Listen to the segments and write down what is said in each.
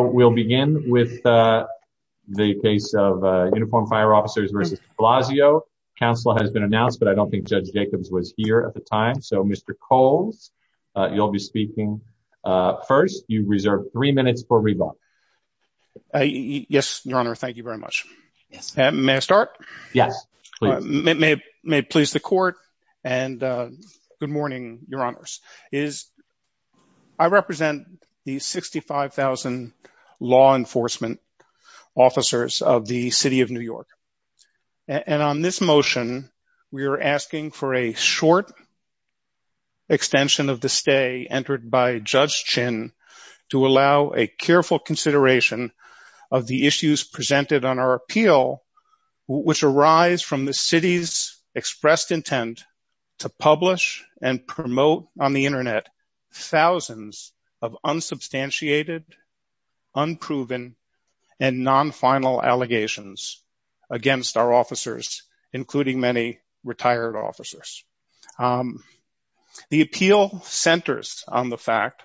We'll begin with the case of Uniformed Fire Officers v. DeBlasio. Counsel has been announced, but I don't think Judge Jacobs was here at the time. So, Mr. Coles, you'll be speaking first. You reserve three minutes for rebuttal. Yes, Your Honor. Thank you very much. May I start? Yes, please. May it please the Court, and good morning, Your Honors. I represent the 65,000 law enforcement officers of the City of New York. And on this motion, we are asking for a short extension of the stay entered by Judge Chin to allow a careful consideration of the issues presented on our appeal, which arise from the City's expressed intent to publish and promote on the Internet thousands of unsubstantiated, unproven, and non-final allegations against our officers, including many retired officers. The appeal centers on the fact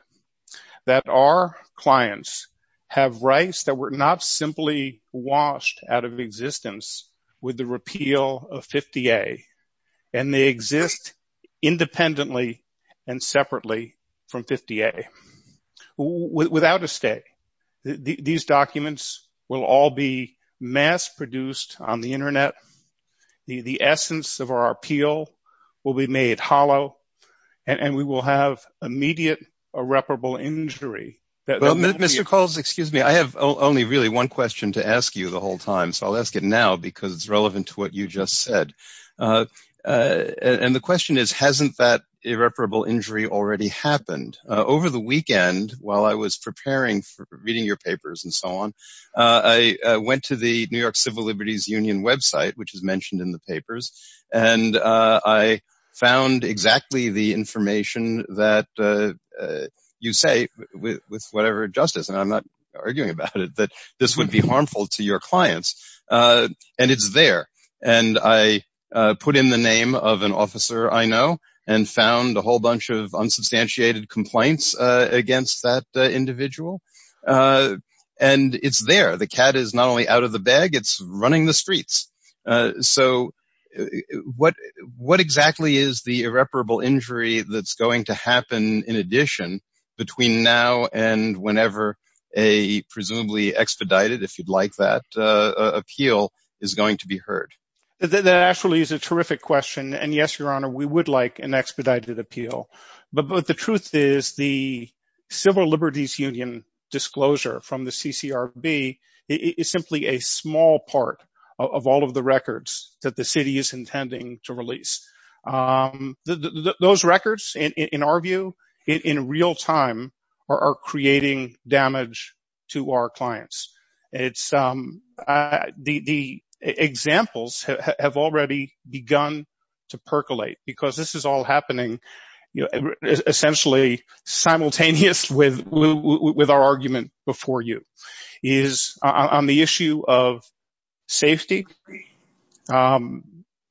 that our clients have rights that were not simply washed out of existence with the repeal of 50A, and they exist independently and separately from 50A. Without a stay, these documents will all be mass-produced on the Internet. The essence of our appeal will be made hollow, and we will have immediate irreparable injury. Mr. Coles, excuse me, I have only really one question to ask you the whole time, so I'll ask it now, because it's relevant to what you just said. And the question is, hasn't that irreparable injury already happened? Over the weekend, while I was preparing for reading your papers and so on, I went to the New York Civil Liberties Union website, which is mentioned in the papers, and I found exactly the information that you say, with whatever justice, and I'm not arguing about it, that this would be harmful to your clients. And it's there. And I put in the name of an officer I know, and found a whole bunch of unsubstantiated complaints against that individual. And it's there. The cat is not only out of the bag, it's running the streets. So what exactly is the irreparable injury that's going to happen, in addition, between now and whenever a presumably expedited, if you'd like that, appeal is going to be heard? That actually is a terrific question. And yes, Your Honor, we would like an expedited appeal. But the truth is, the Civil Liberties Union disclosure from the CCRB is simply a small part of all of the records that the city is intending to release. Those records, in our view, in real time, are creating damage to our clients. The examples have already begun to percolate, because this is all happening, essentially, simultaneous with our argument before you, is on the issue of safety,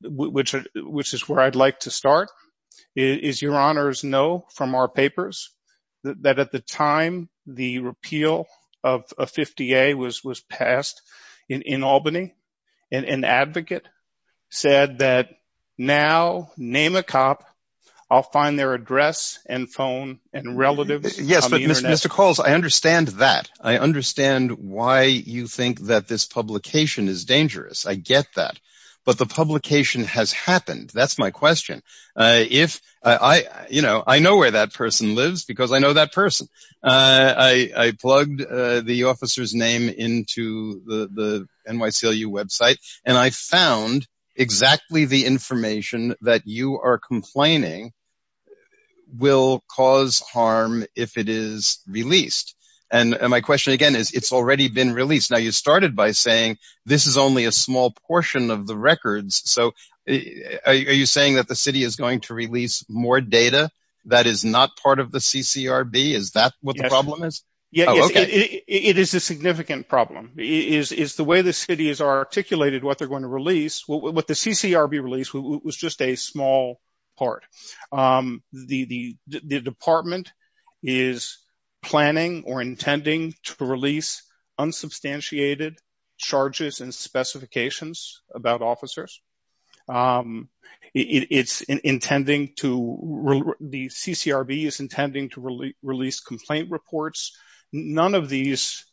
which is where I'd like to start. Is Your Honors know from our papers that at the time the repeal of 50A was passed in Albany, an advocate said that, now, name a cop, I'll find their address and phone and relatives. Yes, but Mr. Coles, I understand that. I understand why you think that this publication is dangerous. I get that. But the publication has happened. That's my question. I know where that person lives, because I know that person. I plugged the officer's name into the NYCLU website, and I found exactly the information that you are complaining will cause harm if it is released. And my question again is, it's already been released. Now, you started by saying, this is only a small portion of the records. So are you saying that the city is going to release more data that is not part of the CCRB? Is that what the problem is? Yeah, it is a significant problem, is the way the city has articulated what they're going to release, what the CCRB released was just a small part. The department is planning or intending to release unsubstantiated charges and specifications about officers. It's intending to release complaint reports. None of these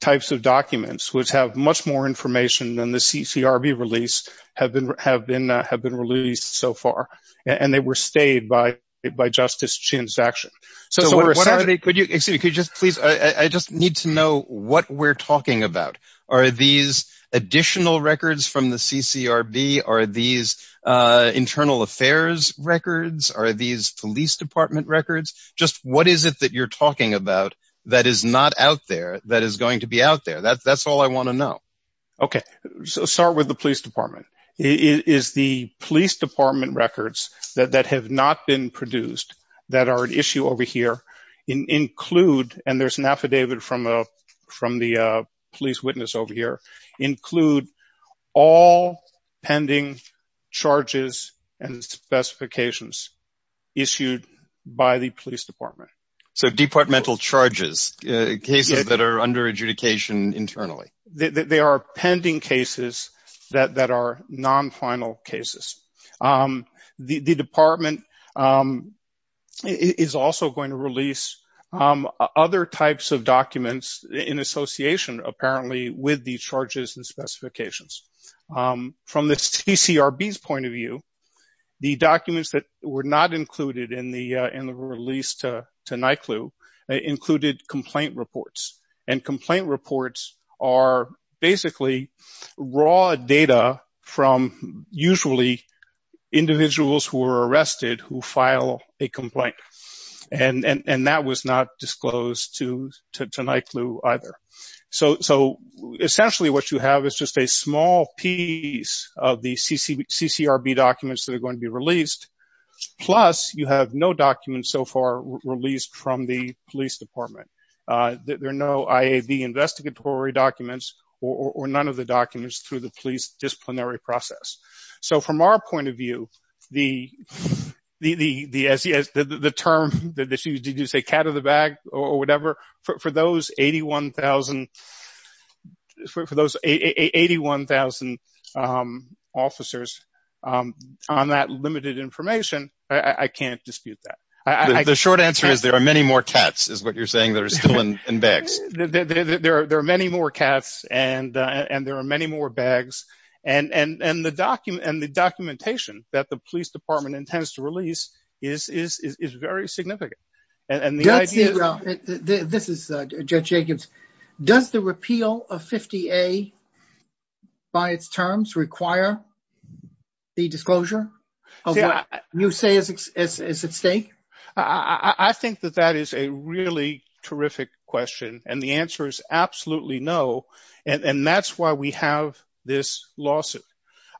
types of documents, which have much more information than the CCRB release, have been released so far. And they were stayed by Justice Chin's action. I just need to know what we're talking about. Are these additional records from the CCRB? Are these internal affairs records? Are these police department records? Just what is it that you're talking about that is not out there that is going to be out there? That's all I want to know. Okay, so start with the police department. Is the police department records that have not been produced, that are an issue over here, include, and there's an affidavit from the police witness over here, include all pending charges and specifications issued by the police department. So departmental charges, cases that are under adjudication internally. They are pending cases that are non-final cases. The department is also going to release other types of documents in association, apparently, with these charges and specifications. From the CCRB's point of view, the documents that were not included in the release to NICLU included complaint reports. And complaint reports are basically raw data from usually individuals who are arrested who file a complaint. And that was not disclosed to NICLU either. So essentially what you have is just a small piece of the CCRB documents that are going to be released, plus you have no documents so far released from the police department. There are no IAV investigatory documents or none of the documents through the police disciplinary process. So from our point of view, the term, did you say cat in the bag or whatever, for those 81,000 officers on that limited information, I can't dispute that. The short answer is there are many more cats is what you're saying that are still in bags. There are many more cats and there are many more bags. And the documentation that the police department intends to release is very significant. And the idea... Judge Jacobs, does the repeal of 50A by its terms require the disclosure of what you say is at stake? I think that that is a really terrific question. And the answer is absolutely no. And that's why we have this lawsuit.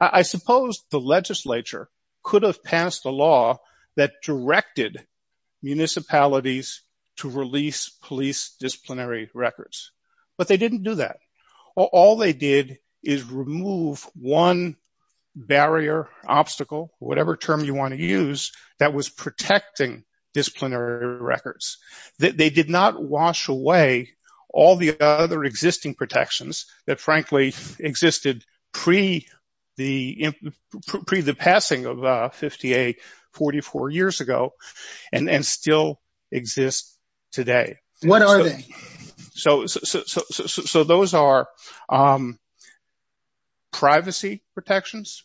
I suppose the legislature could have passed a law that directed municipalities to release police disciplinary records. But they didn't do that. All they did is remove one barrier, obstacle, whatever term you want to use that was protecting disciplinary records. They did not wash away all the other existing protections that frankly existed pre the passing of 50A 44 years ago and still exist today. What are they? So those are privacy protections,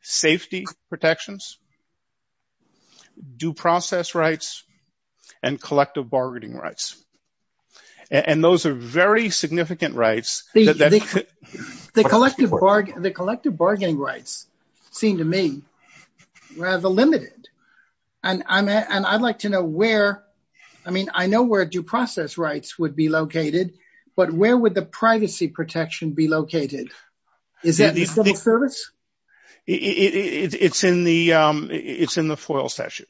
safety protections, due process rights, and collective bargaining rights. And those are very significant rights. The collective bargaining rights seem to me rather limited. And I'd like to know where... I mean, I know where due process rights would be located, but where would the privacy protection be located? Is that the civil service? It's in the FOIL statute.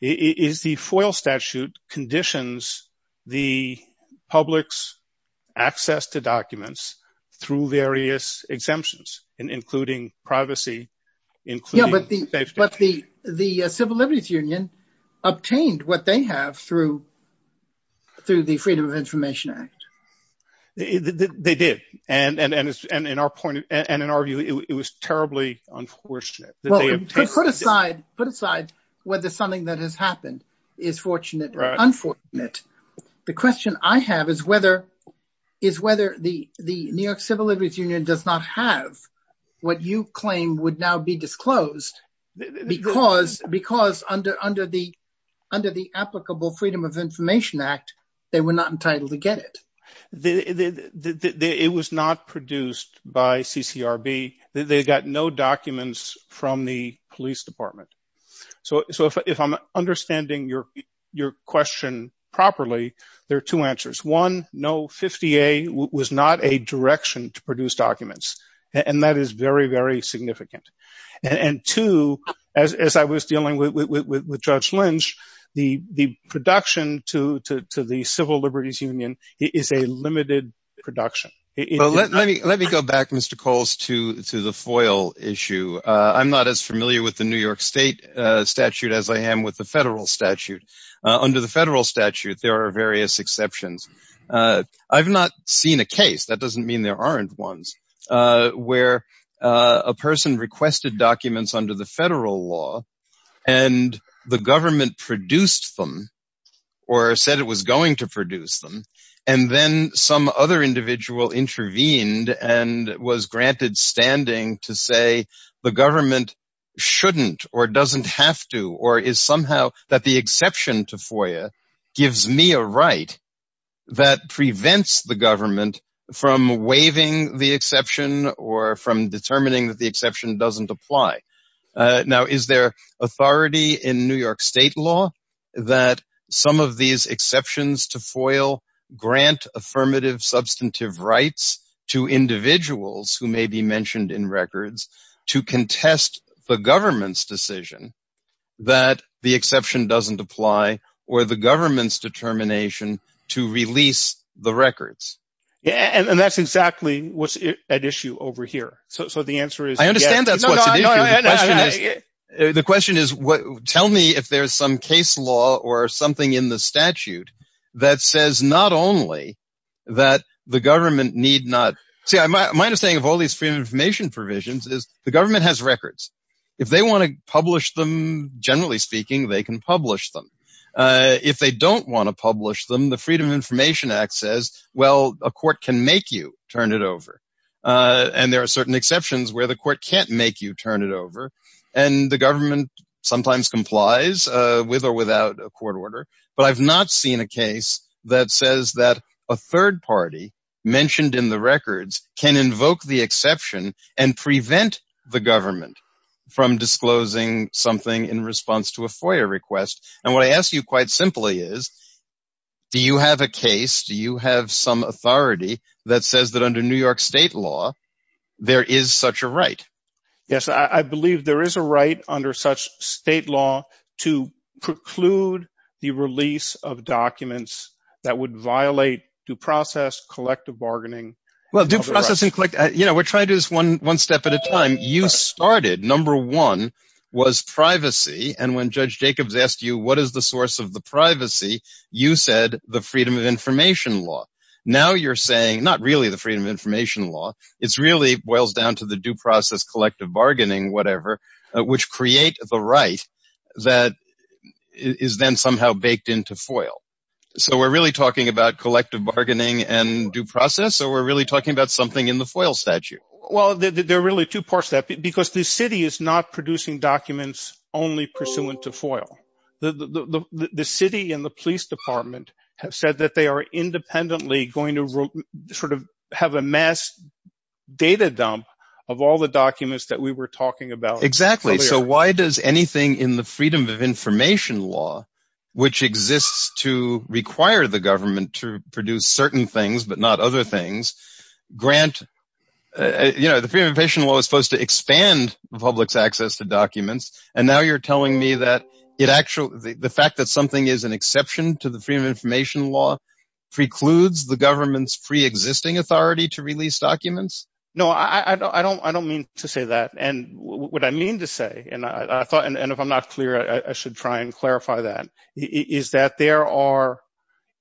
The FOIL statute conditions the public's access to documents through various exemptions, including privacy, including safety. The Civil Liberties Union obtained what they have through the Freedom of Information Act. They did. And in our view, it was terribly unfortunate. Put aside whether something that has happened is fortunate or unfortunate. The question I have is whether the New York Civil Liberties Union does not have what you claim would now be disclosed because under the applicable Freedom of Information Act, they were not entitled to get it. It was not produced by CCRB. They got no documents from the police department. So if I'm understanding your question properly, there are two answers. One, no, 50A was not a direction to produce documents. And that is very, very significant. And two, as I was dealing with Judge Lynch, the production to the Civil Liberties Union is a limited production. Let me go back, Mr. Coles, to the FOIL issue. I'm not as familiar with the New York State statute as I am with the federal statute. Under the federal statute, there are various exceptions. I've not seen a case, that doesn't mean there aren't ones, where a person requested documents under the federal law and the government produced them or said it was going to produce them. And then some other individual intervened and was granted standing to say the government shouldn't or doesn't have to or is somehow that the exception to FOIL gives me a right that prevents the government from waiving the exception or from determining that the exception doesn't apply. Now, is there authority in New York State law that some of these exceptions to FOIL grant affirmative substantive rights to individuals who may be mentioned in records to contest the government's decision that the exception doesn't apply or the government's records. And that's exactly what's at issue over here. So the answer is, I understand that. The question is, tell me if there's some case law or something in the statute that says not only that the government need not see my understanding of all these free information provisions is the government has records. If they want to publish them, generally speaking, they can publish them. If they don't want to publish them, the Freedom of Information Act says, well, a court can make you turn it over. And there are certain exceptions where the court can't make you turn it over. And the government sometimes complies with or without a court order. But I've not seen a case that says that a third party mentioned in the records can invoke the exception and prevent the government from disclosing something in response to a FOIA request. And what I ask you quite simply is, do you have a case? Do you have some authority that says that under New York State law, there is such a right? Yes, I believe there is a right under such state law to preclude the release of documents that would violate due process, collective bargaining. Well, due process and collect. You know, we're trying to do this one step at a time. You started, number one was privacy. And when Judge Jacobs asked you, what is the source of the privacy? You said the freedom of information law. Now you're saying not really the freedom of information law. It's really boils down to the due process, collective bargaining, whatever, which create the right that is then somehow baked into FOIA. So we're really talking about collective bargaining and due process, or we're really talking about something in the FOIA statute? Well, there are really two parts to that, because the city is not producing documents only pursuant to FOIA. The city and the police department have said that they are independently going to sort of have a mass data dump of all the documents that we were talking about. Exactly. So why does anything in the freedom of information law, which exists to require the things, but not other things, grant, you know, the freedom of information law is supposed to expand the public's access to documents. And now you're telling me that the fact that something is an exception to the freedom of information law precludes the government's free existing authority to release documents? No, I don't mean to say that. And what I mean to say, and I thought, and if I'm not clear, I should try and clarify that, is that there are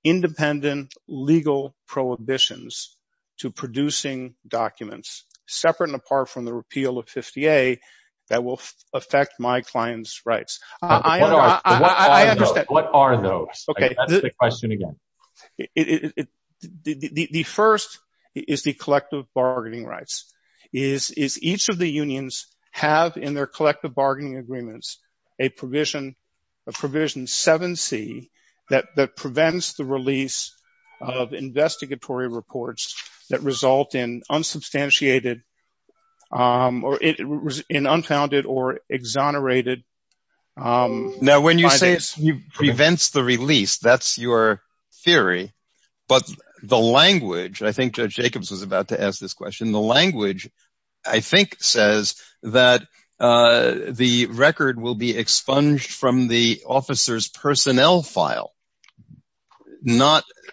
independent legal prohibitions to producing documents separate and apart from the repeal of 50A that will affect my client's rights. What are those? Okay, that's the question again. The first is the collective bargaining rights, is each of the unions have in their collective of investigatory reports that result in unsubstantiated or in unfounded or exonerated. Now, when you say it prevents the release, that's your theory. But the language, I think Judge Jacobs was about to ask this question, the language, I think, says that the record will be expunged from the officer's personnel file.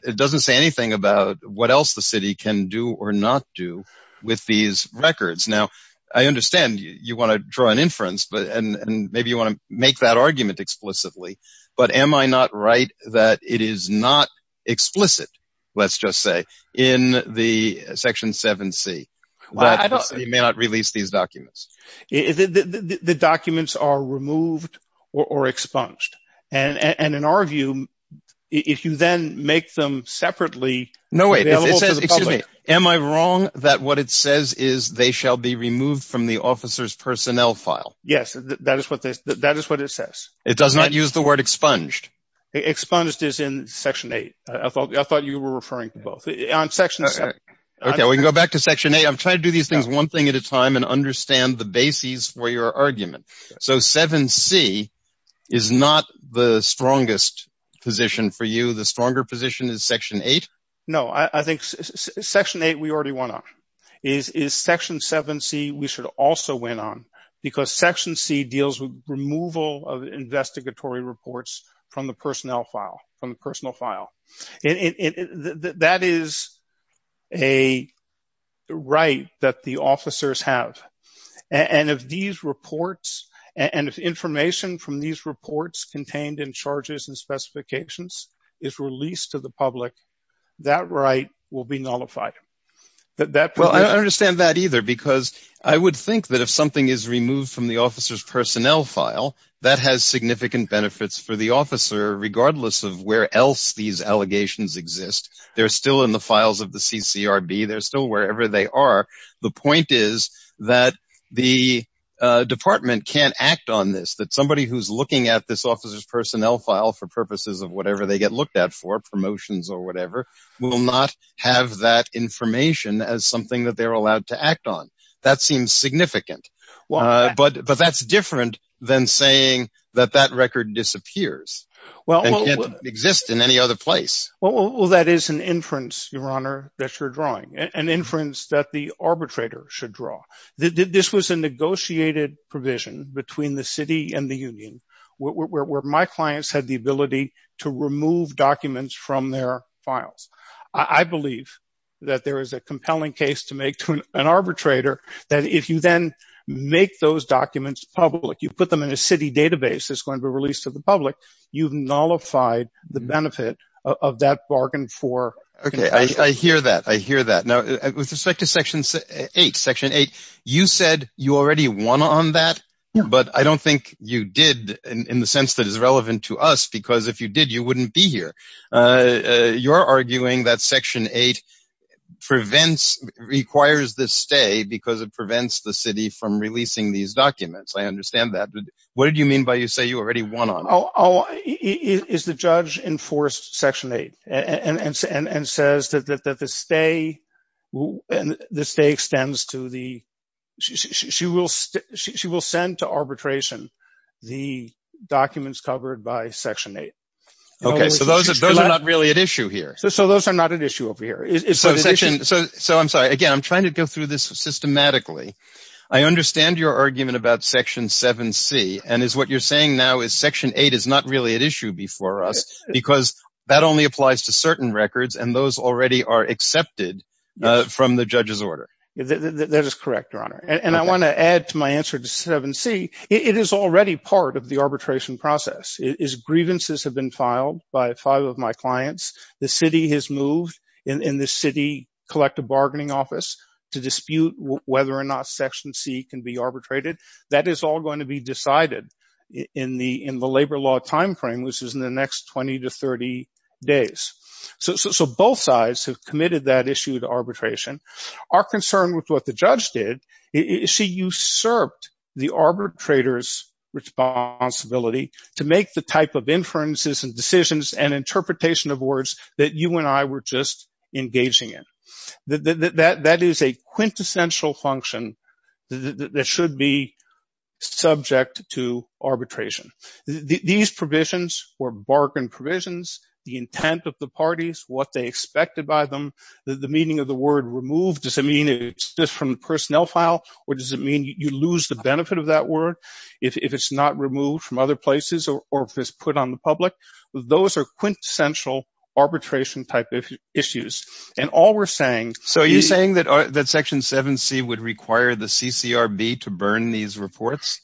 It doesn't say anything about what else the city can do or not do with these records. Now, I understand you want to draw an inference, and maybe you want to make that argument explicitly, but am I not right that it is not explicit, let's just say, in the Section 7C, that the city may not release these documents? The documents are removed or expunged, and in our view, if you then make them separately... No, wait, it says, excuse me, am I wrong that what it says is they shall be removed from the officer's personnel file? Yes, that is what it says. It does not use the word expunged? Expunged is in Section 8. I thought you were referring to both. On Section 7... Okay, we can go back to Section 8. I'm trying to do these things one thing at a time and understand the basis for your argument. So, 7C is not the strongest position for you. The stronger position is Section 8? No, I think Section 8, we already went on. Is Section 7C, we should also went on, because Section C deals with removal of investigatory reports from the personnel file, from the that the officers have. And if these reports, and if information from these reports contained in charges and specifications is released to the public, that right will be nullified. Well, I don't understand that either, because I would think that if something is removed from the officer's personnel file, that has significant benefits for the officer, regardless of where else these allegations exist. They're still in the files of the CCRB. They're still wherever they are. The point is that the department can't act on this, that somebody who's looking at this officer's personnel file for purposes of whatever they get looked at for, promotions or whatever, will not have that information as something that they're allowed to act on. That seems significant. But that's different than saying that that record disappears and can't exist in any other place. Well, that is an inference, Your Honor, that you're drawing, an inference that the arbitrator should draw. This was a negotiated provision between the city and the union, where my clients had the ability to remove documents from their files. I believe that there is a compelling case to make to an arbitrator, that if you then make those documents public, you put them in a bargain for... Okay, I hear that. I hear that. Now, with respect to Section 8, you said you already won on that, but I don't think you did in the sense that is relevant to us, because if you did, you wouldn't be here. You're arguing that Section 8 requires this stay because it prevents the city from releasing these documents. I understand that, but what did you mean by you say you already won on? Is the judge enforced Section 8 and says that the stay extends to the... She will send to arbitration the documents covered by Section 8. Okay, so those are not really at issue here. So those are not at issue over here. So, I'm sorry, again, I'm trying to go through this systematically. I understand your argument about Section 7c, and is what you're saying, Section 8 is not really at issue before us because that only applies to certain records, and those already are accepted from the judge's order. That is correct, Your Honor, and I want to add to my answer to 7c. It is already part of the arbitration process. Grievances have been filed by five of my clients. The city has moved in the City Collective Bargaining Office to dispute whether or not Section C can be arbitrated. That is all going to be decided in the labor law time frame, which is in the next 20 to 30 days. So both sides have committed that issue to arbitration. Our concern with what the judge did is she usurped the arbitrator's responsibility to make the type of inferences and decisions and interpretation of words that you and I were just talking about. So, we have a quintessential function that should be subject to arbitration. These provisions were bargain provisions, the intent of the parties, what they expected by them, the meaning of the word removed. Does it mean it's just from the personnel file, or does it mean you lose the benefit of that word if it's not removed from other places, or if it's put on the public? Those are quintessential arbitration type of issues, and all we're saying... So, you're saying that Section 7C would require the CCRB to burn these reports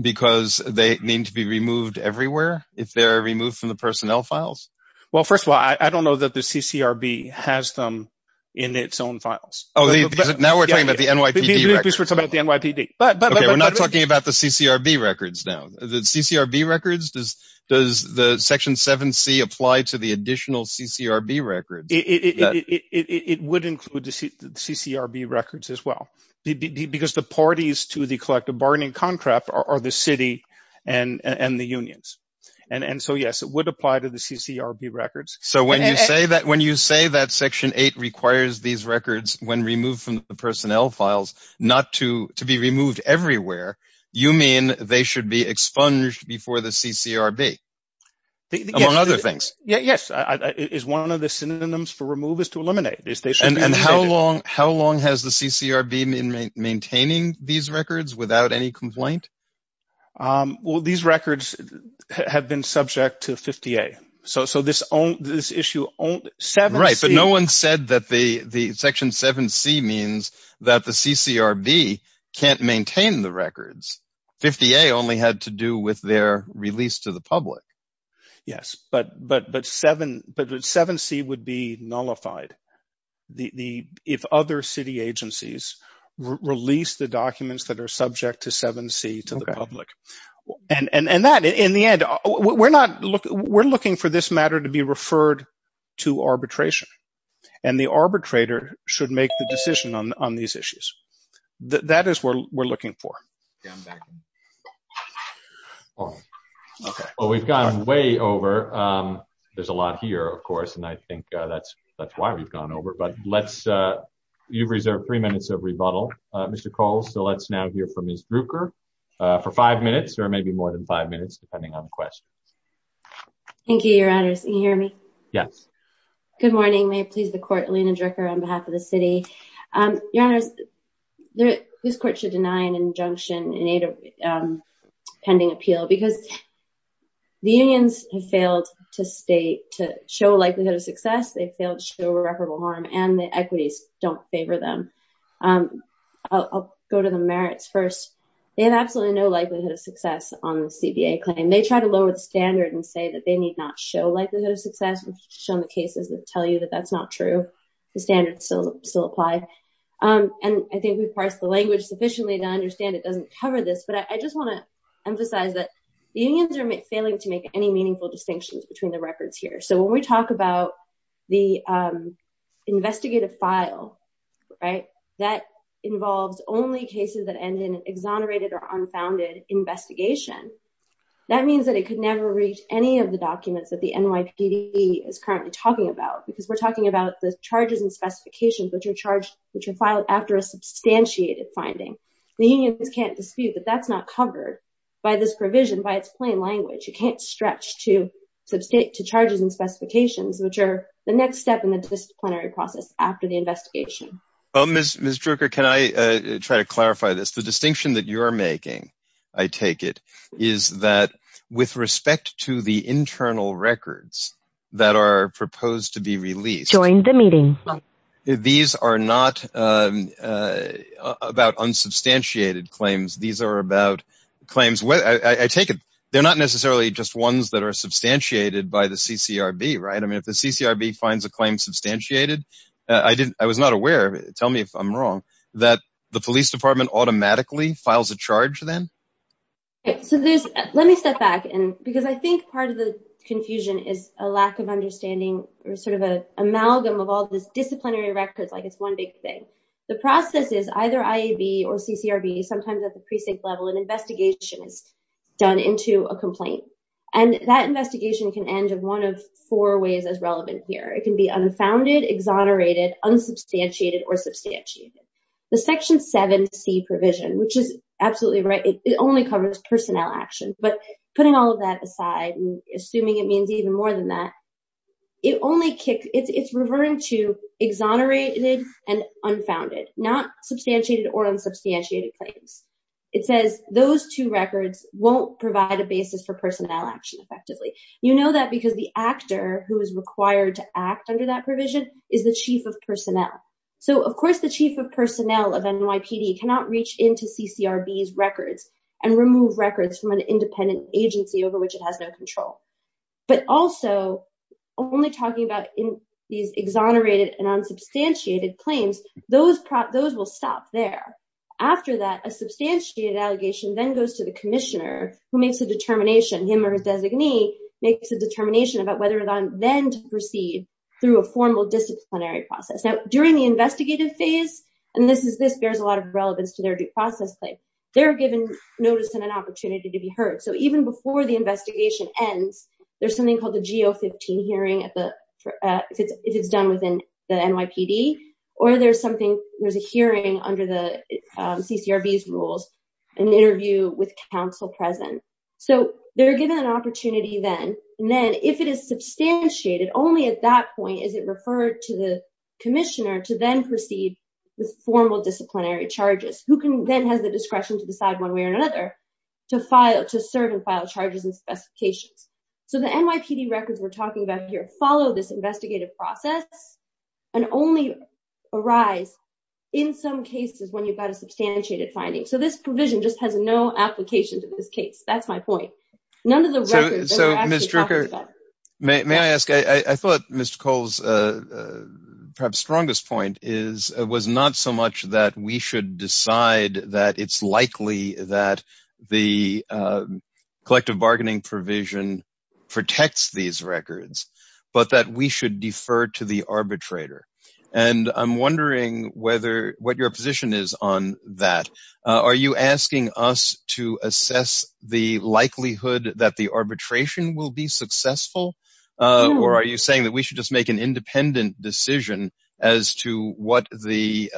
because they need to be removed everywhere if they're removed from the personnel files? Well, first of all, I don't know that the CCRB has them in its own files. Oh, now we're talking about the NYPD records. We're not talking about the CCRB records now. The CCRB records, does the Section 7C apply to the additional CCRB records? It would include the CCRB records as well, because the parties to the collective bargaining contract are the city and the unions. And so, yes, it would apply to the CCRB records. So, when you say that Section 8 requires these records, when removed from the personnel files, not to be removed everywhere, you mean they should be expunged before the CCRB, among other things? Yes. It is one of the synonyms for remove is to eliminate. And how long has the CCRB been maintaining these records without any complaint? Well, these records have been subject to 50A. So, this issue... Right, but no one said that the Section 7C means that the CCRB can't maintain the records. 50A only had to do with their release to the public. Yes, but 7C would be nullified if other city agencies release the documents that are subject to 7C to the public. And that, in the end, we're looking for this matter to be referred to arbitration. And the arbitrator should make the decision on these issues. That is what we're looking for. We've gone way over. There's a lot here, of course, and I think that's why we've gone over. You've reserved three minutes of rebuttal, Mr. Cole. So, let's now hear from Ms. Druecker for five minutes, or maybe more than five minutes, depending on the question. Thank you, Your Honors. Can you hear me? Yes. Good morning. May it please the Court, Elena Druecker, on behalf of the city. Your Honors, this Court should deny an injunction in aid of pending appeal because the unions have failed to show likelihood of success. They failed to show irreparable harm, and the equities don't favor them. I'll go to the merits first. They have absolutely no likelihood of success on the CBA claim. They tried to lower the standard and say that they need not show likelihood of success. We've shown the cases that tell you that that's not true. The standards still apply, and I think we've parsed the language sufficiently to understand it doesn't cover this, but I just want to emphasize that the unions are failing to make any meaningful distinctions between the records here. So, when we talk about the investigative file, right, that involves only cases that end in an exonerated or unfounded investigation, that means that it could never reach any of the documents that the NYPD is currently talking about, because we're talking about the charges and specifications, which are filed after a substantiated finding. The unions can't dispute that that's not covered by this provision, by its plain language. You can't stretch to charges and specifications, which are the next step in the disciplinary process after the investigation. Ms. Druecker, can I try to clarify this? The distinction that you're making, I take it, is that with respect to the internal records that are proposed to be released, these are not about unsubstantiated claims. These are about claims, I take it, they're not necessarily just ones that are substantiated by the CCRB, right? I mean, if the CCRB finds a claim substantiated, I was not aware, tell me if I'm wrong, that the police department automatically files a charge then? Let me step back, because I think part of the confusion is a lack of understanding, or sort of an amalgam of all these disciplinary records, like it's one big thing. The process is either IAB or CCRB, sometimes at the precinct level, an investigation is done into a complaint, and that investigation can end in one of four ways as relevant here. It can be unfounded, exonerated, unsubstantiated, or substantiated. The Section 7C provision, which is absolutely right, it only covers personnel action, but putting all of that aside and assuming it means even more than that, it only kicks, it's reverting to exonerated and unfounded, not substantiated or unsubstantiated claims. It says those two records won't provide a basis for personnel action effectively. You know that because the actor who is required to act under that provision is the chief of personnel. So, of course, the chief of personnel of NYPD cannot reach into CCRB's records and remove records from an independent agency over which it has no control. But also, only talking about these exonerated and unsubstantiated claims, those will stop there. After that, a substantiated allegation then goes to the commissioner who makes a determination, him or his designee, makes a determination about whether or not then to proceed through a formal disciplinary process. During the investigative phase, and this bears a lot of relevance to their due process claim, they're given notice and an opportunity to be heard. So, even before the investigation ends, there's something called the GO-15 hearing if it's done within the NYPD, or there's something, there's a hearing under the CCRB's rules, an interview with counsel present. So, they're given an opportunity then, and then if it is substantiated, only at that point is it referred to the commissioner to then proceed with formal disciplinary charges. Who then has the discretion to decide one way or another to serve and file charges and specifications. So, the NYPD records we're talking about here follow this investigative process and only arise in some cases when you've got a substantiated finding. So, this provision just has no application to this case. That's my perhaps strongest point is it was not so much that we should decide that it's likely that the collective bargaining provision protects these records, but that we should defer to the arbitrator. And I'm wondering whether what your position is on that. Are you asking us to assess the likelihood that the arbitration will be successful? Or are you saying that we should just make an independent decision as to what the,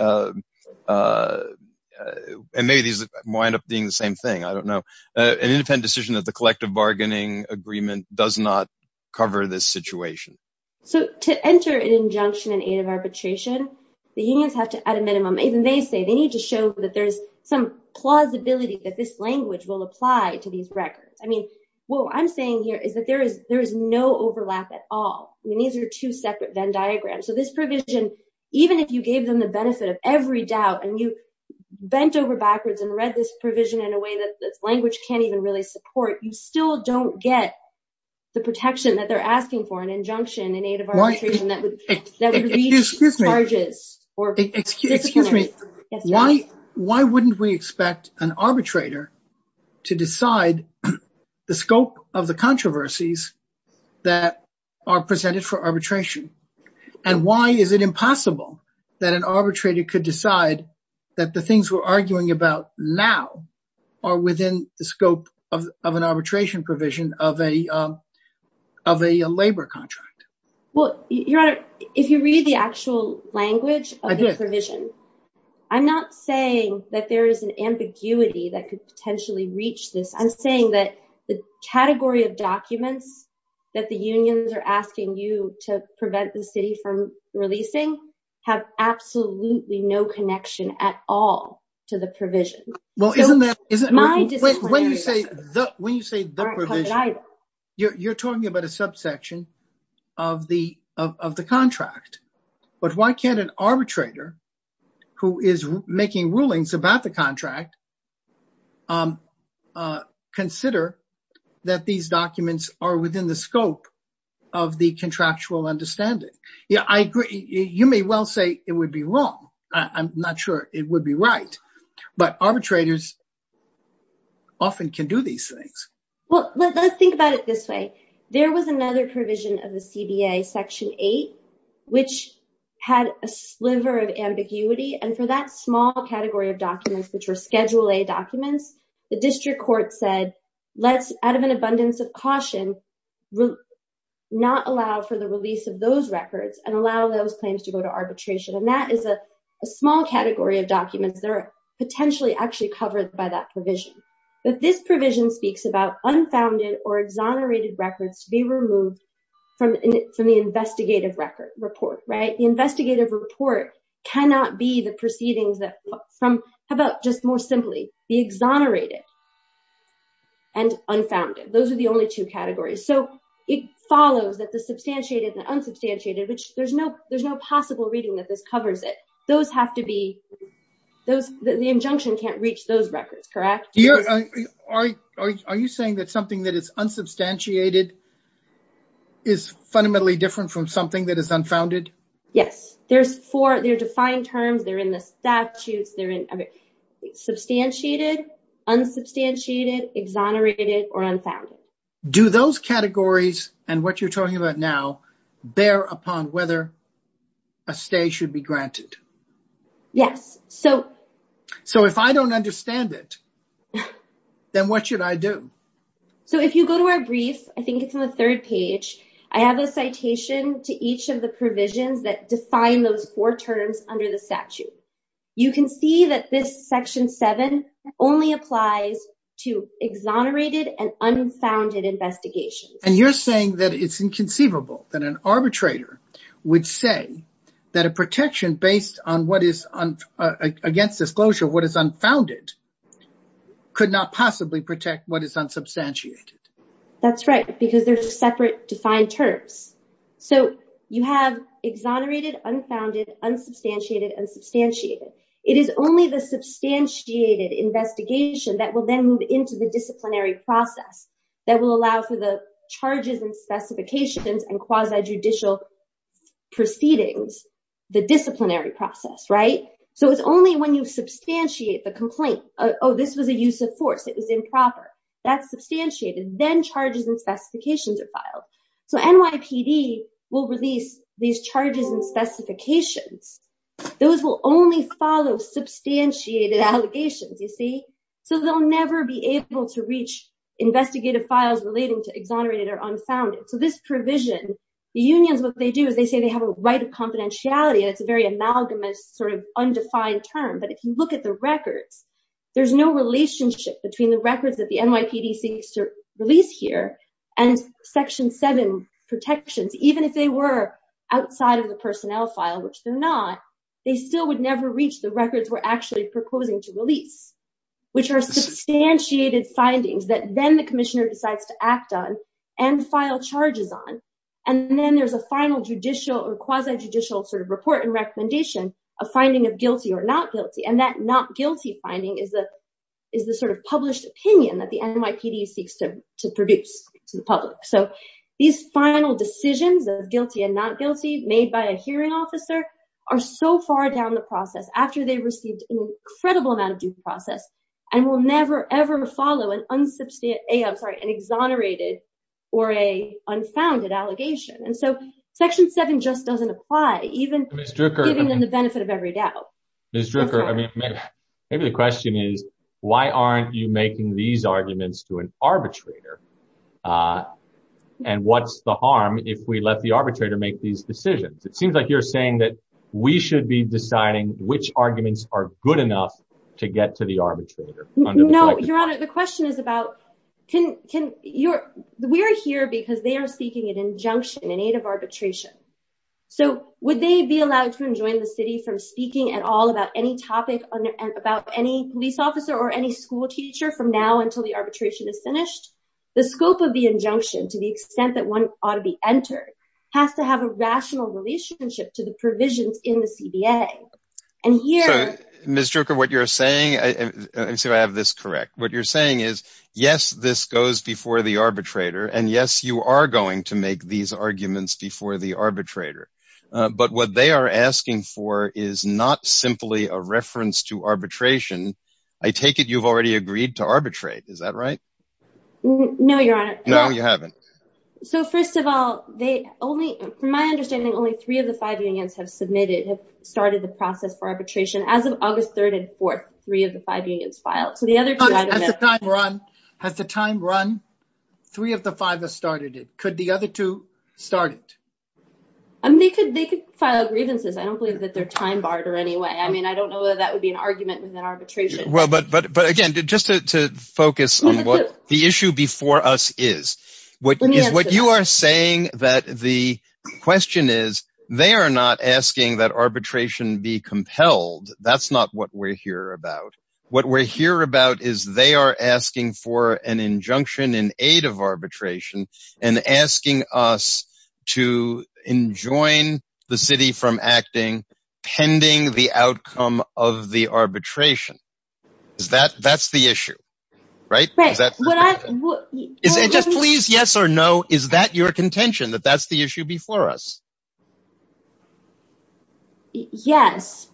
and maybe these wind up being the same thing, I don't know, an independent decision that the collective bargaining agreement does not cover this situation? So, to enter an injunction in aid of arbitration, the unions have to, at a minimum, even they say they need to show that there's some plausibility that this language will apply to these records. I mean, what I'm saying here is that there is no overlap at all. I mean, these are two separate Venn diagrams. So, this provision, even if you gave them the benefit of every doubt and you bent over backwards and read this provision in a way that language can't even really support, you still don't get the protection that they're asking for, an injunction in aid of arbitration that would reach charges. Excuse me, why wouldn't we expect an arbitrator to decide the scope of the controversies that are presented for arbitration? And why is it impossible that an arbitrator could decide that the things we're arguing about now are within the scope of an arbitration provision of a labor contract? Well, Your Honor, if you read the actual I'm saying that the category of documents that the unions are asking you to prevent the city from releasing have absolutely no connection at all to the provision. When you say the provision, you're talking about a subsection of the contract. But why can't an arbitrator consider that these documents are within the scope of the contractual understanding? Yeah, I agree. You may well say it would be wrong. I'm not sure it would be right. But arbitrators often can do these things. Well, let's think about it this way. There was another provision of the CBA, Section 8, which had a sliver of ambiguity. And for that small category of documents, the district court said, let's, out of an abundance of caution, not allow for the release of those records and allow those claims to go to arbitration. And that is a small category of documents that are potentially actually covered by that provision. But this provision speaks about unfounded or exonerated records to be removed from the investigative record report, right? The investigative report cannot be the proceedings that from, how about just more simply, the exonerated and unfounded. Those are the only two categories. So it follows that the substantiated and unsubstantiated, which there's no possible reading that this covers it. Those have to be, the injunction can't reach those records, correct? Are you saying that something that is unsubstantiated is fundamentally different from something that is unfounded? Yes. There's four, they're defined terms. They're in the statutes. They're in substantiated, unsubstantiated, exonerated, or unfounded. Do those categories and what you're talking about now bear upon whether a stay should be granted? Yes. So if I don't understand it, then what should I do? So if you go to our brief, I think it's on the third page, I have a citation to each of the provisions that define those four terms under the statute. You can see that this section seven only applies to exonerated and unfounded investigations. And you're saying that it's inconceivable that an arbitrator would say that a protection based on what is against disclosure, what is unfounded could not possibly protect what is unsubstantiated. That's right, because they're separate defined terms. So you have exonerated, unfounded, unsubstantiated, and substantiated. It is only the substantiated investigation that will then move into the disciplinary process that will allow for the charges and specifications and quasi-judicial proceedings, the disciplinary process, right? So it's only when you substantiate the complaint, oh, this was a use of force, it was improper, that's substantiated, then charges and specifications are filed. So NYPD will release these charges and specifications. Those will only follow substantiated allegations, you see? So they'll never be able to reach investigative files relating to exonerated or unfounded. So this provision, the unions, what they do is they say they have a right of confidentiality, and it's a very amalgamous undefined term. But if you look at the records, there's no relationship between the records that the NYPD seeks to release here and Section 7 protections. Even if they were outside of the personnel file, which they're not, they still would never reach the records we're actually proposing to release, which are substantiated findings that then the commissioner decides to act on and file charges on. And then there's a final judicial or quasi-judicial report and finding of guilty or not guilty. And that not guilty finding is the sort of published opinion that the NYPD seeks to produce to the public. So these final decisions of guilty and not guilty made by a hearing officer are so far down the process after they received an incredible amount of due process and will never, ever follow an exonerated or a unfounded allegation. And so Section 7 just doesn't apply, even giving them the benefit of every doubt. Ms. Drucker, maybe the question is, why aren't you making these arguments to an arbitrator? And what's the harm if we let the arbitrator make these decisions? It seems like you're saying that we should be deciding which arguments are good enough to get to the arbitrator. No, Your Honor, the question is about, we're here because they are seeking an injunction, an aid of arbitration. So would they be allowed to enjoin the city from speaking at all about any topic about any police officer or any school teacher from now until the arbitration is finished? The scope of the injunction, to the extent that one ought to be entered, has to have a rational relationship to the provisions in the CBA. And here- Ms. Drucker, what you're saying, let me see if I have this correct. What you're saying is, yes, this goes before the arbitrator, and yes, you are going to make these arguments before the arbitrator. But what they are asking for is not simply a reference to arbitration. I take it, you've already agreed to arbitrate. Is that right? No, Your Honor. No, you haven't. So first of all, they only, from my understanding, only three of the five unions have submitted, have started the process for arbitration. As of August 3rd and 4th, three of the five unions filed. So the other two- Has the time run? Has the time run? Three of the five have started it. Could the other two start it? They could file grievances. I don't believe that they're time barred or any way. I mean, I don't know whether that would be an argument within arbitration. Well, but again, just to focus on what the issue before us is, what you are saying that the question is, they are not asking that they are asking for an injunction in aid of arbitration and asking us to enjoin the city from acting pending the outcome of the arbitration. Is that, that's the issue, right? Just please, yes or no, is that your contention that that's the issue before us? Yes,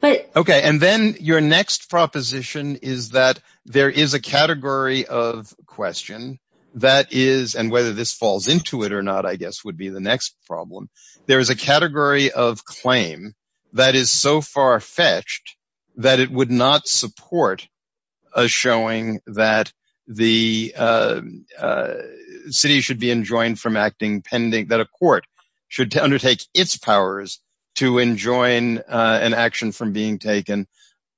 but- Okay. And then your next proposition is that there is a category of question that is, and whether this falls into it or not, I guess, would be the next problem. There is a category of claim that is so far-fetched that it would not support a showing that the city should be enjoined from acting pending, that a court should undertake its powers to enjoin an action from being taken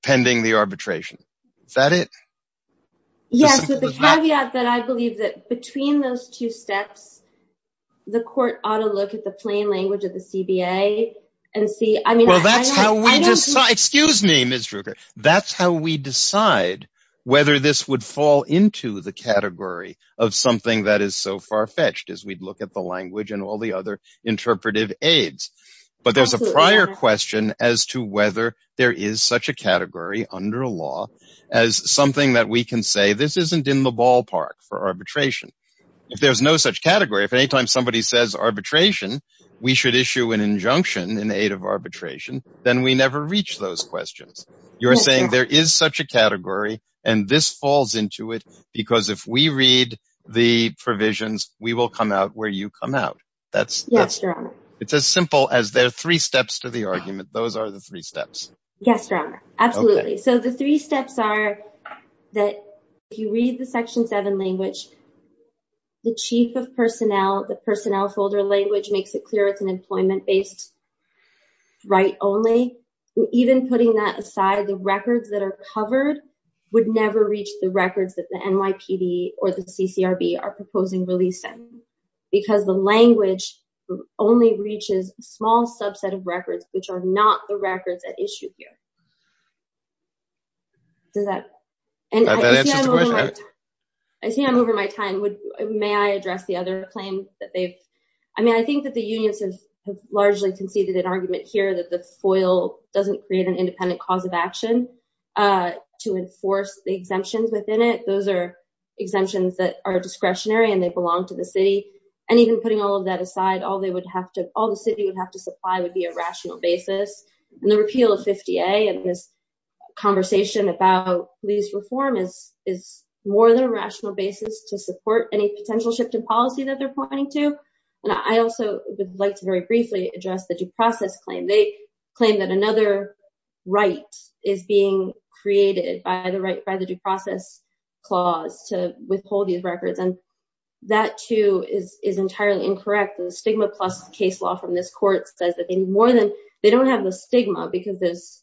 pending the arbitration. Is that it? Yes, but the caveat that I believe that between those two steps, the court ought to look at the plain language of the CBA and see, I mean- Well, that's how we decide, excuse me, Ms. Drucker, that's how we decide whether this would fall into the category of something that is so far-fetched as we'd look at the language and all other interpretive aids. But there's a prior question as to whether there is such a category under law as something that we can say, this isn't in the ballpark for arbitration. If there's no such category, if anytime somebody says arbitration, we should issue an injunction in aid of arbitration, then we never reach those questions. You're saying there is such a category and this falls into it because if we read the provisions, we will come out where you come out. Yes, Your Honor. It's as simple as there are three steps to the argument. Those are the three steps. Yes, Your Honor. Absolutely. So the three steps are that if you read the Section 7 language, the chief of personnel, the personnel folder language makes it clear it's an employment-based right only. Even putting that aside, the records that are covered would never reach the records that the NYPD or the CCRB are proposing releasing because the language only reaches a small subset of records which are not the records at issue here. Does that answer the question? I see I'm over my time. May I address the other claim that they've... I mean, I think that the unions have largely conceded an argument here that the FOIL doesn't create an independent cause of exemptions. Those are exemptions that are discretionary and they belong to the city. And even putting all of that aside, all the city would have to supply would be a rational basis. And the repeal of 50A and this conversation about police reform is more than a rational basis to support any potential shift in policy that they're pointing to. And I also would like to very briefly address the due process claim. They claim that another right is being created by the due process clause to withhold these records. And that too is entirely incorrect. The stigma plus case law from this court says that they need more than... they don't have the stigma because there's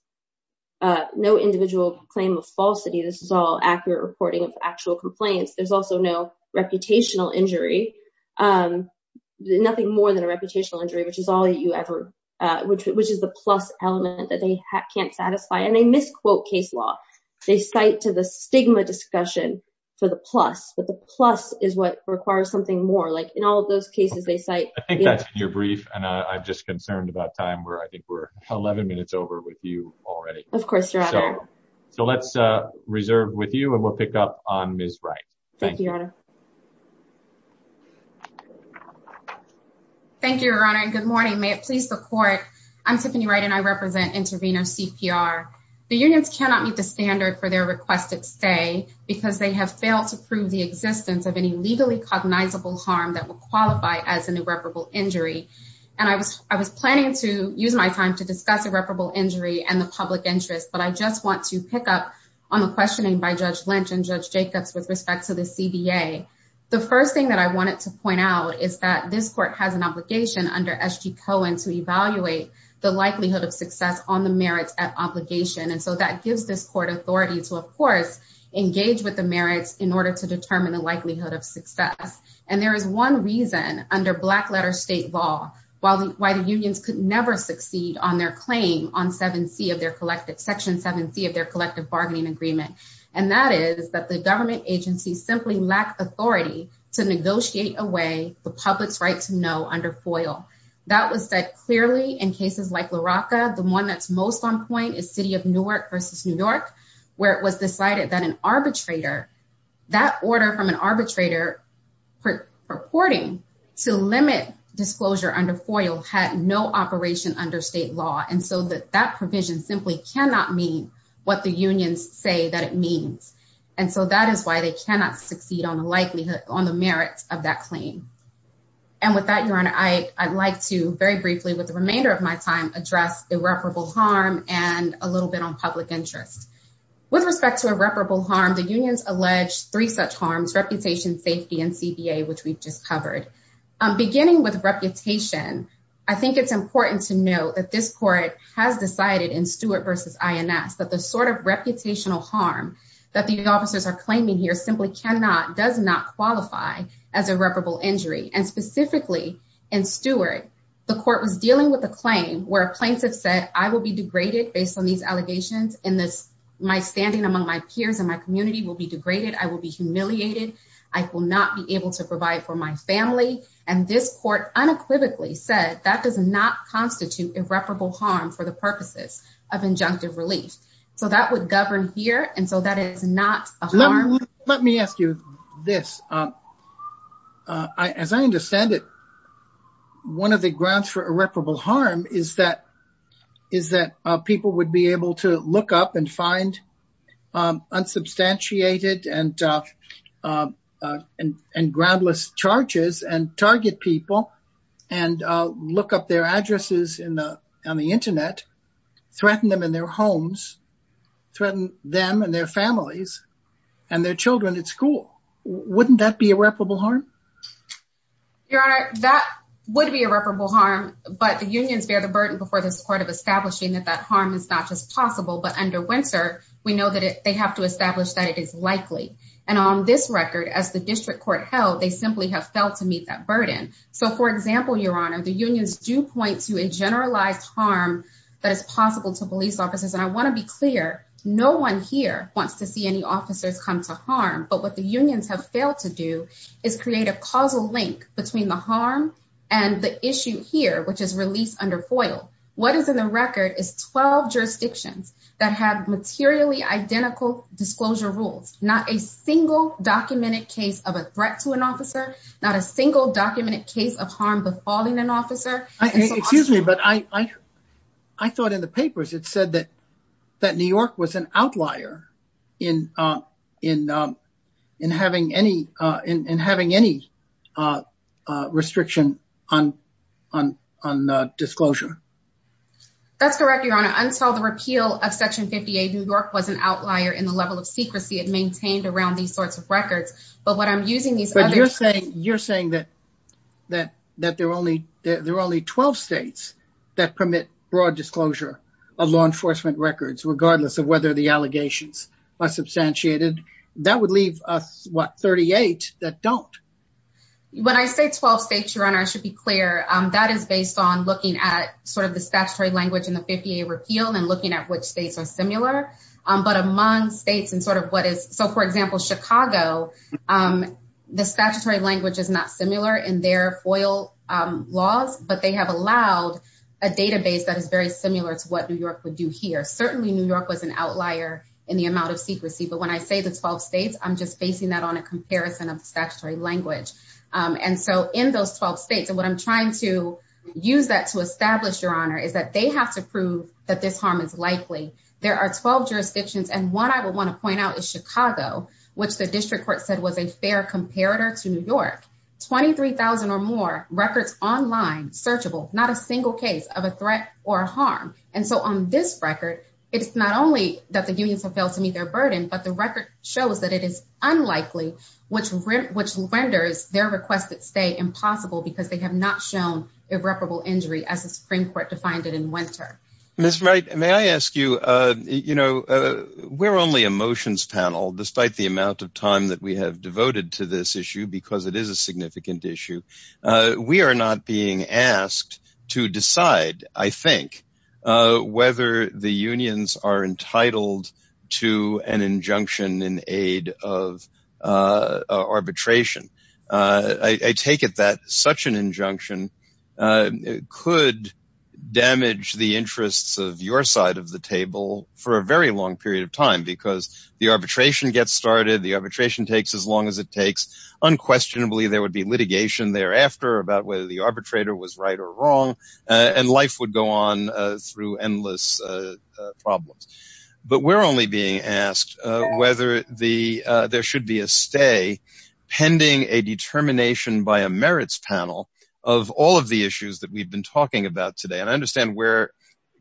no individual claim of falsity. This is all accurate reporting of actual complaints. There's also no reputational injury, nothing more than a reputational injury, which is all you ever... which is the plus element that they can't satisfy. And they misquote case law. They cite to the stigma discussion for the plus, but the plus is what requires something more. Like in all of those cases they cite... I think that's in your brief and I'm just concerned about time where I think we're 11 minutes over with you already. Of course you're out of air. So let's reserve with you and we'll pick up on Ms. Wright. Thank you, Your Honor. Thank you, Your Honor. And good morning. May it please the court. I'm Tiffany Wright and I requested stay because they have failed to prove the existence of any legally cognizable harm that will qualify as an irreparable injury. And I was planning to use my time to discuss irreparable injury and the public interest, but I just want to pick up on the questioning by Judge Lynch and Judge Jacobs with respect to the CBA. The first thing that I wanted to point out is that this court has an obligation under SG Cohen to evaluate the likelihood of success on the merits at authority to, of course, engage with the merits in order to determine the likelihood of success. And there is one reason under black letter state law why the unions could never succeed on their claim on Section 7C of their collective bargaining agreement. And that is that the government agency simply lack authority to negotiate away the public's right to know under FOIL. That was said in cases like La Rocca, the one that's most on point is city of Newark versus New York, where it was decided that an arbitrator, that order from an arbitrator purporting to limit disclosure under FOIL had no operation under state law. And so that that provision simply cannot mean what the unions say that it means. And so that is why they cannot succeed on the likelihood on the merits of that claim. And with that, Your Honor, I'd like to very briefly with the remainder of my time address irreparable harm and a little bit on public interest. With respect to irreparable harm, the unions allege three such harms, reputation, safety, and CBA, which we've just covered. Beginning with reputation, I think it's important to know that this court has decided in Stewart versus INS that the sort of reputational harm that the officers are claiming here simply cannot, does not qualify as irreparable injury. And specifically in Stewart, the court was dealing with a claim where a plaintiff said, I will be degraded based on these allegations in this, my standing among my peers and my community will be degraded. I will be humiliated. I will not be able to provide for my family. And this court unequivocally said that does not constitute irreparable harm for the purposes of injunctive relief. So that would govern here. And so that is not a harm. Let me ask you this. As I understand it, one of the grounds for irreparable harm is that people would be able to look up and find unsubstantiated and groundless charges and target people and look up their addresses on the internet, threaten them in their homes, threaten them and their families and their children at school. Wouldn't that be irreparable harm? Your honor, that would be irreparable harm, but the unions bear the burden before this court of establishing that that harm is not just possible, but under winter, we know that they have to establish that it is likely. And on this record, as the district court held, they simply have felt to meet that burden. So for example, your honor, the unions do point to a generalized harm that is possible to police officers. And I want to be clear, no one here wants to see any officers come to harm. But what the unions have failed to do is create a causal link between the harm and the issue here, which is released under FOIL. What is in the record is 12 jurisdictions that have materially identical disclosure rules, not a single documented case of a threat to an I thought in the papers, it said that, that New York was an outlier in, in, in having any, in having any restriction on, on, on disclosure. That's correct, your honor, until the repeal of Section 58, New York was an outlier in the level of secrecy it maintained around these sorts of records. But what I'm using these other... But you're saying, you're saying that, that, that there are only, there are only 12 states that permit broad disclosure of law enforcement records, regardless of whether the allegations are substantiated. That would leave us, what, 38 that don't. When I say 12 states, your honor, I should be clear, that is based on looking at sort of the statutory language and the 58 repeal and looking at which states are similar. But among states and sort of what is, so for example, Chicago, the statutory language is not similar in their FOIL laws, but they have allowed a database that is very similar to what New York would do here. Certainly New York was an outlier in the amount of secrecy. But when I say the 12 states, I'm just basing that on a comparison of the statutory language. And so in those 12 states, and what I'm trying to use that to establish, your honor, is that they have to prove that this harm is likely. There are 12 jurisdictions. And one I would want to point out is Chicago, which the district court said was a fair comparator to New York. 23,000 or more records online, searchable, not a single case of a threat or a harm. And so on this record, it's not only that the unions have failed to meet their burden, but the record shows that it is unlikely, which renders their requested stay impossible because they have not shown irreparable injury as the Supreme Court defined it in winter. Ms. Wright, may I ask you, you know, we're only a motions panel, despite the amount of time that we have devoted to this issue, because it is a significant issue. We are not being asked to decide, I think, whether the unions are entitled to an injunction in aid of arbitration. I take it that such an because the arbitration gets started, the arbitration takes as long as it takes. Unquestionably, there would be litigation thereafter about whether the arbitrator was right or wrong. And life would go on through endless problems. But we're only being asked whether there should be a stay pending a determination by a merits panel of all of the issues that we've been talking about today. And I understand we're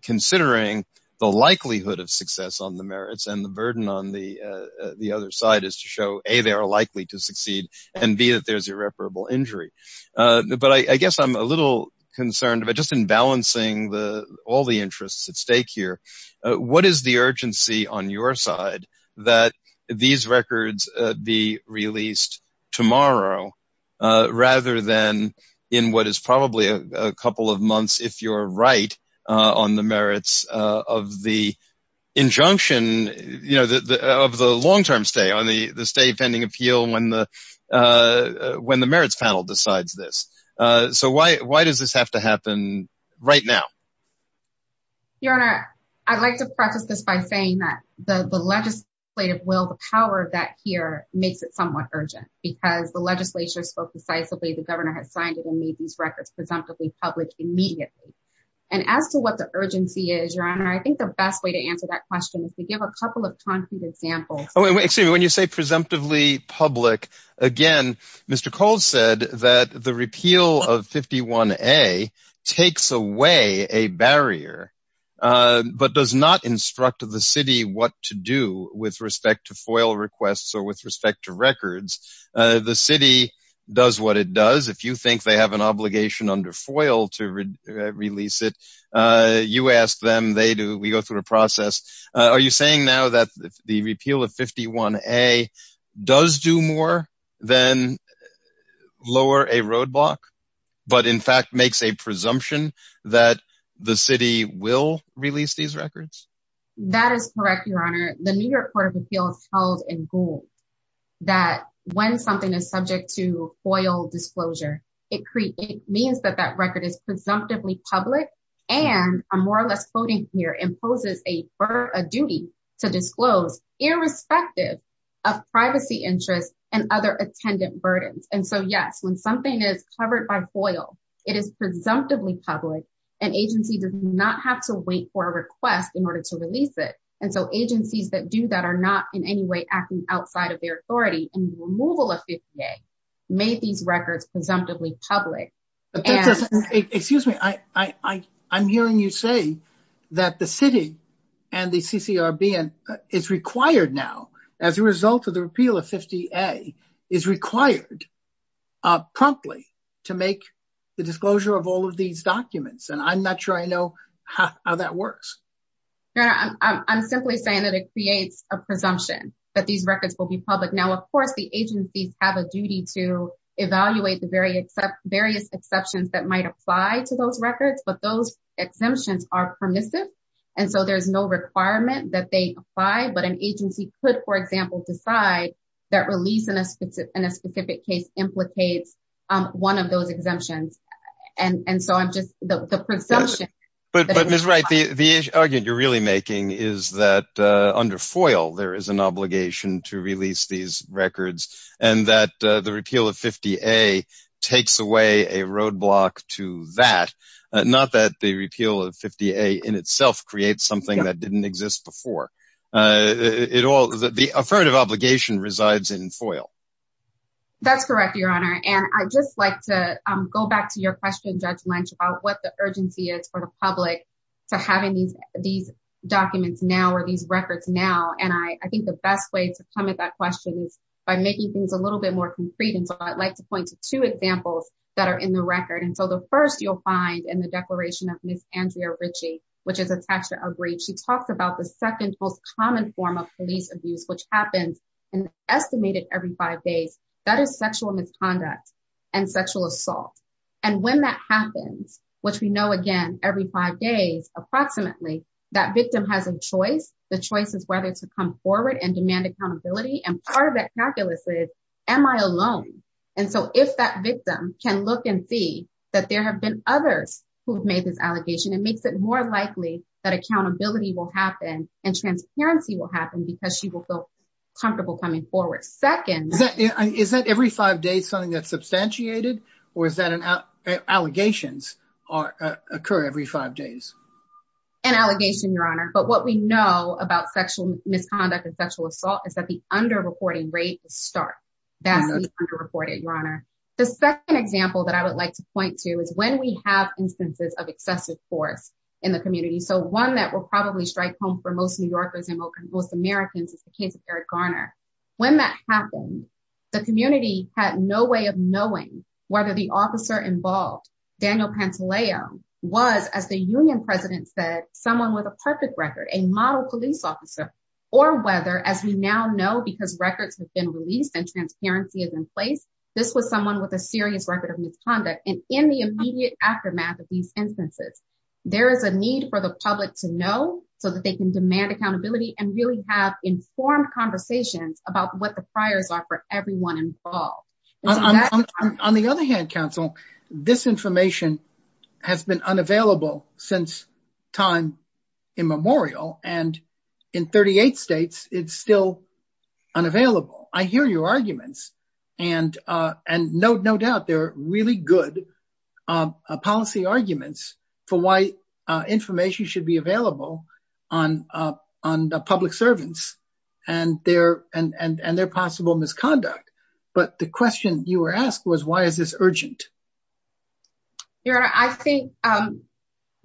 considering the likelihood of success on the merits and the burden on the other side is to show a they are likely to succeed and be that there's irreparable injury. But I guess I'm a little concerned about just in balancing the all the interests at stake here. What is the urgency on your side that these records be released tomorrow, rather than in what is probably a couple of months, if you're right, on the merits of the injunction of the long term stay on the stay pending appeal when the merits panel decides this. So why does this have to happen right now? Your Honor, I'd like to preface this by saying that the legislative will, the power of that here makes it somewhat urgent, because the legislature spoke decisively, the governor has signed it and these records presumptively public immediately. And as to what the urgency is, Your Honor, I think the best way to answer that question is to give a couple of concrete examples. Oh, excuse me, when you say presumptively public, again, Mr. Cole said that the repeal of 51a takes away a barrier, but does not instruct the city what to do with respect to FOIL requests or with respect to records. The city does what it does, if you think they have an obligation under FOIL to release it, you ask them, they do, we go through the process. Are you saying now that the repeal of 51a does do more than lower a roadblock, but in fact, makes a presumption that the city will release these records? That is correct, Your Honor, the New York Court of that when something is subject to FOIL disclosure, it means that that record is presumptively public. And I'm more or less quoting here imposes a duty to disclose irrespective of privacy interests and other attendant burdens. And so yes, when something is covered by FOIL, it is presumptively public, and agency does not have to wait for a request in order to release it. So agencies that do that are not in any way acting outside of their authority, and the removal of 51a made these records presumptively public. Excuse me, I'm hearing you say that the city and the CCRB is required now, as a result of the repeal of 51a, is required promptly to make the disclosure of all of these documents. And I'm not sure I know how that works. Your Honor, I'm simply saying that it creates a presumption that these records will be public. Now, of course, the agencies have a duty to evaluate the various exceptions that might apply to those records, but those exemptions are permissive. And so there's no requirement that they apply, but an agency could, for example, decide that release in a specific case implicates one of those exemptions. And so I'm just, the presumption- But Ms. Wright, the argument you're really making is that under FOIL, there is an obligation to release these records, and that the repeal of 50a takes away a roadblock to that, not that the repeal of 50a in itself creates something that didn't exist before. The affirmative obligation resides in FOIL. That's correct, Your Honor. And I'd just like to go back to your question, Judge Lynch, about what the urgency is for the public to having these documents now or these records now. And I think the best way to come at that question is by making things a little bit more concrete. And so I'd like to point to two examples that are in the record. And so the first you'll find in the declaration of Ms. Andrea Ritchie, which is attached to our brief, she talks about the second most common form of police abuse, which happens, and estimated every five days, that is which we know, again, every five days, approximately, that victim has a choice. The choice is whether to come forward and demand accountability. And part of that calculus is, am I alone? And so if that victim can look and see that there have been others who have made this allegation, it makes it more likely that accountability will happen and transparency will happen because she will feel comfortable coming forward. Second- Is that every five days something that's substantiated? Or is that an allegations occur every five days? An allegation, Your Honor. But what we know about sexual misconduct and sexual assault is that the under-reporting rate is stark. That is under-reported, Your Honor. The second example that I would like to point to is when we have instances of excessive force in the community. So one that will probably strike home for most Americans is the case of Eric Garner. When that happened, the community had no way of knowing whether the officer involved, Daniel Pantaleo, was, as the union president said, someone with a perfect record, a model police officer, or whether, as we now know, because records have been released and transparency is in place, this was someone with a serious record of misconduct. And in the immediate aftermath of these instances, there is a need for the public to know so that they can demand accountability and really have informed conversations about what the priors are for everyone involved. On the other hand, counsel, this information has been unavailable since time immemorial. And in 38 states, it's still unavailable. I hear your arguments. And I'm not going to go into the details of this. I'm going to focus on the public servants and their possible misconduct. But the question you were asked was, why is this urgent? Your Honor, I think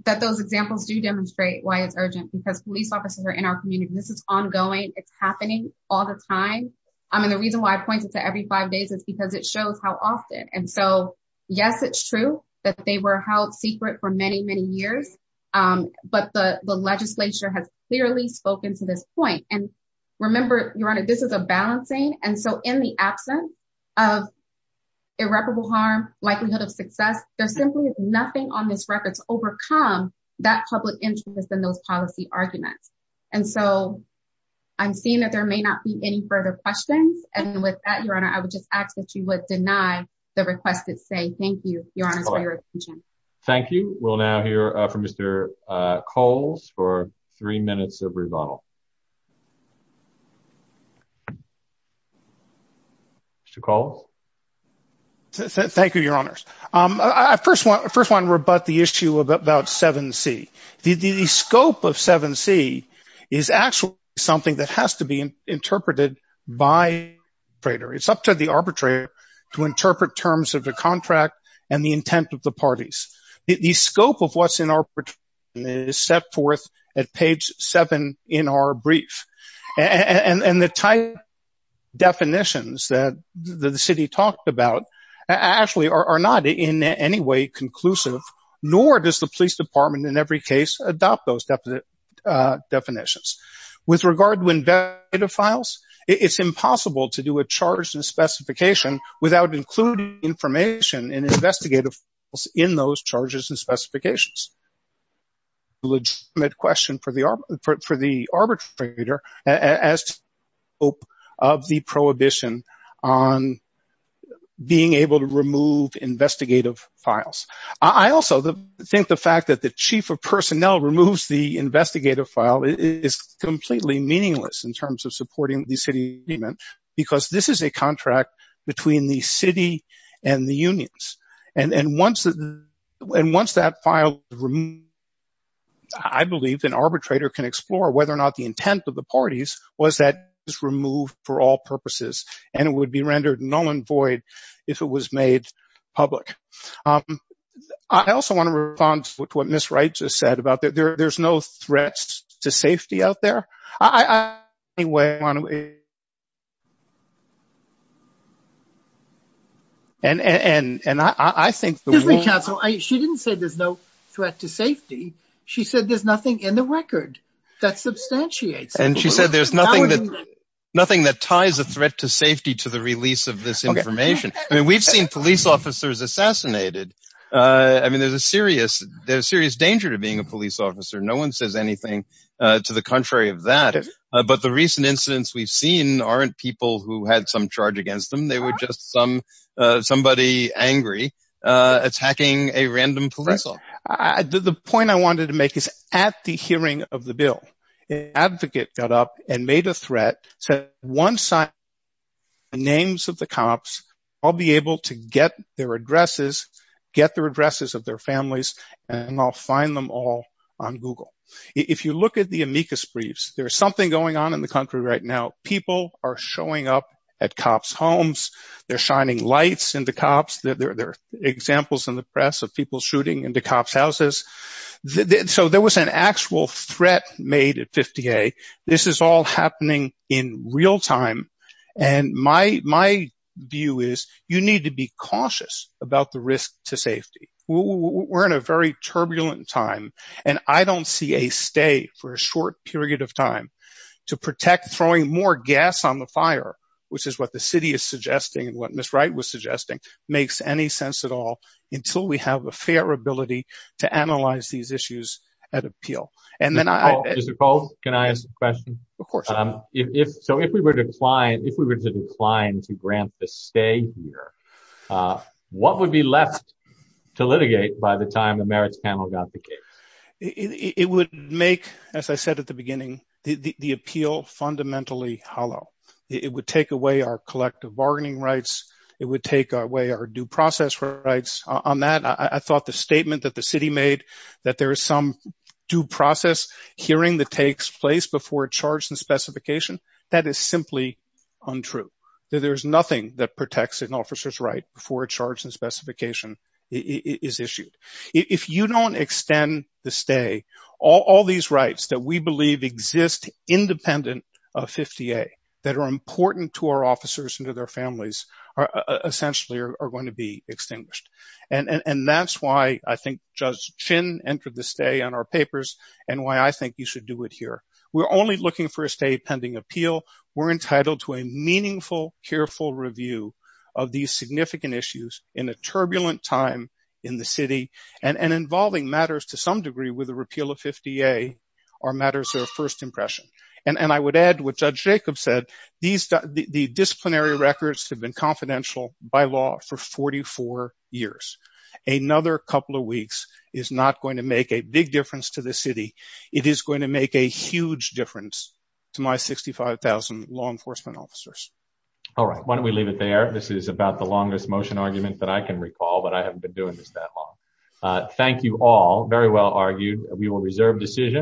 that those examples do demonstrate why it's urgent because police officers are in our community. This is ongoing. It's happening all the time. I mean, the reason why I point it to every five days is because it shows how often. And so, yes, it's true that they held secret for many, many years. But the legislature has clearly spoken to this point. And remember, Your Honor, this is a balancing. And so, in the absence of irreparable harm, likelihood of success, there's simply nothing on this record to overcome that public interest in those policy arguments. And so, I'm seeing that there may not be any further questions. And with that, Your Honor, I would just ask that you would deny the request to say thank you, Your Honor, for your attention. Thank you. We'll now hear from Mr. Coles for three minutes of rebuttal. Mr. Coles? Thank you, Your Honors. I first want to rebut the issue about 7C. The scope of 7C is actually something that has to be interpreted by the arbitrator. It's up to the arbitrator to interpret terms of the contract and the intent of the parties. The scope of what's in arbitration is set forth at page seven in our brief. And the type of definitions that the city talked about actually are not in any way conclusive, nor does the police department in every case adopt those definitions. With regard to investigative files, it's impossible to do a charge and specification without including information in investigative files in those charges and specifications. It's a legitimate question for the arbitrator of the prohibition on being able to remove investigative files. I also think the fact that the chief of personnel removes the investigative file is completely meaningless in terms of supporting the city agreement, because this is a contract between the city and the unions. And once that file is removed, I believe an arbitrator can explore whether or not the intent of the parties was that it was removed for all purposes, and it would be rendered null and void if it was made public. I also want to respond to what Ms. Wright just said about there's no threats to safety out there. I think there's nothing that ties a threat to safety to the release of this information. I mean, we've seen police officers assassinated. I mean, there's a serious danger to being a police officer. No one says anything to the contrary of that. But the recent incidents we've seen aren't people who had some charge against them. They were just somebody angry attacking a random police officer. The point I wanted to make is at the hearing of the bill, an advocate got up and made a threat, said once I get the names of the cops, I'll be able to get their addresses, get the addresses of their families, and I'll find them all on Google. If you look at the amicus briefs, there's something going on in the country right now. People are showing up at cops' homes. They're shining lights into cops. There are examples in the press of people shooting into real time. My view is you need to be cautious about the risk to safety. We're in a very turbulent time, and I don't see a stay for a short period of time to protect throwing more gas on the fire, which is what the city is suggesting and what Ms. Wright was suggesting makes any sense at all until we have a fair ability to analyze these issues at appeal. Mr. Cole, can I ask a question? If we were to decline to grant the stay here, what would be left to litigate by the time the Merits Panel got the case? It would make, as I said at the beginning, the appeal fundamentally hollow. It would take away our collective bargaining rights. It would take away our due process rights. On that, I thought the statement that the city made that there is some due process hearing that takes place before a charge and specification, that is simply untrue. There's nothing that protects an officer's right before a charge and specification is issued. If you don't extend the stay, all these rights that we believe exist independent of 50A that are important to our officers and to their families essentially are going to be extinguished. That's why I think Judge Chin entered the stay on our papers and why I think you should do it here. We're only looking for a stay pending appeal. We're entitled to a meaningful, careful review of these significant issues in a turbulent time in the city and involving matters to some degree with the repeal of 50A are matters of first impression. I would add what Judge Jacobs said, these disciplinary records have been confidential by law for 44 years. Another couple of weeks is not going to make a big difference to the city. It is going to make a huge difference to my 65,000 law enforcement officers. All right. Why don't we leave it there? This is about the longest motion argument that I can recall, but I haven't been doing this that long. Thank you all. Very well argued. We will reserve decisions.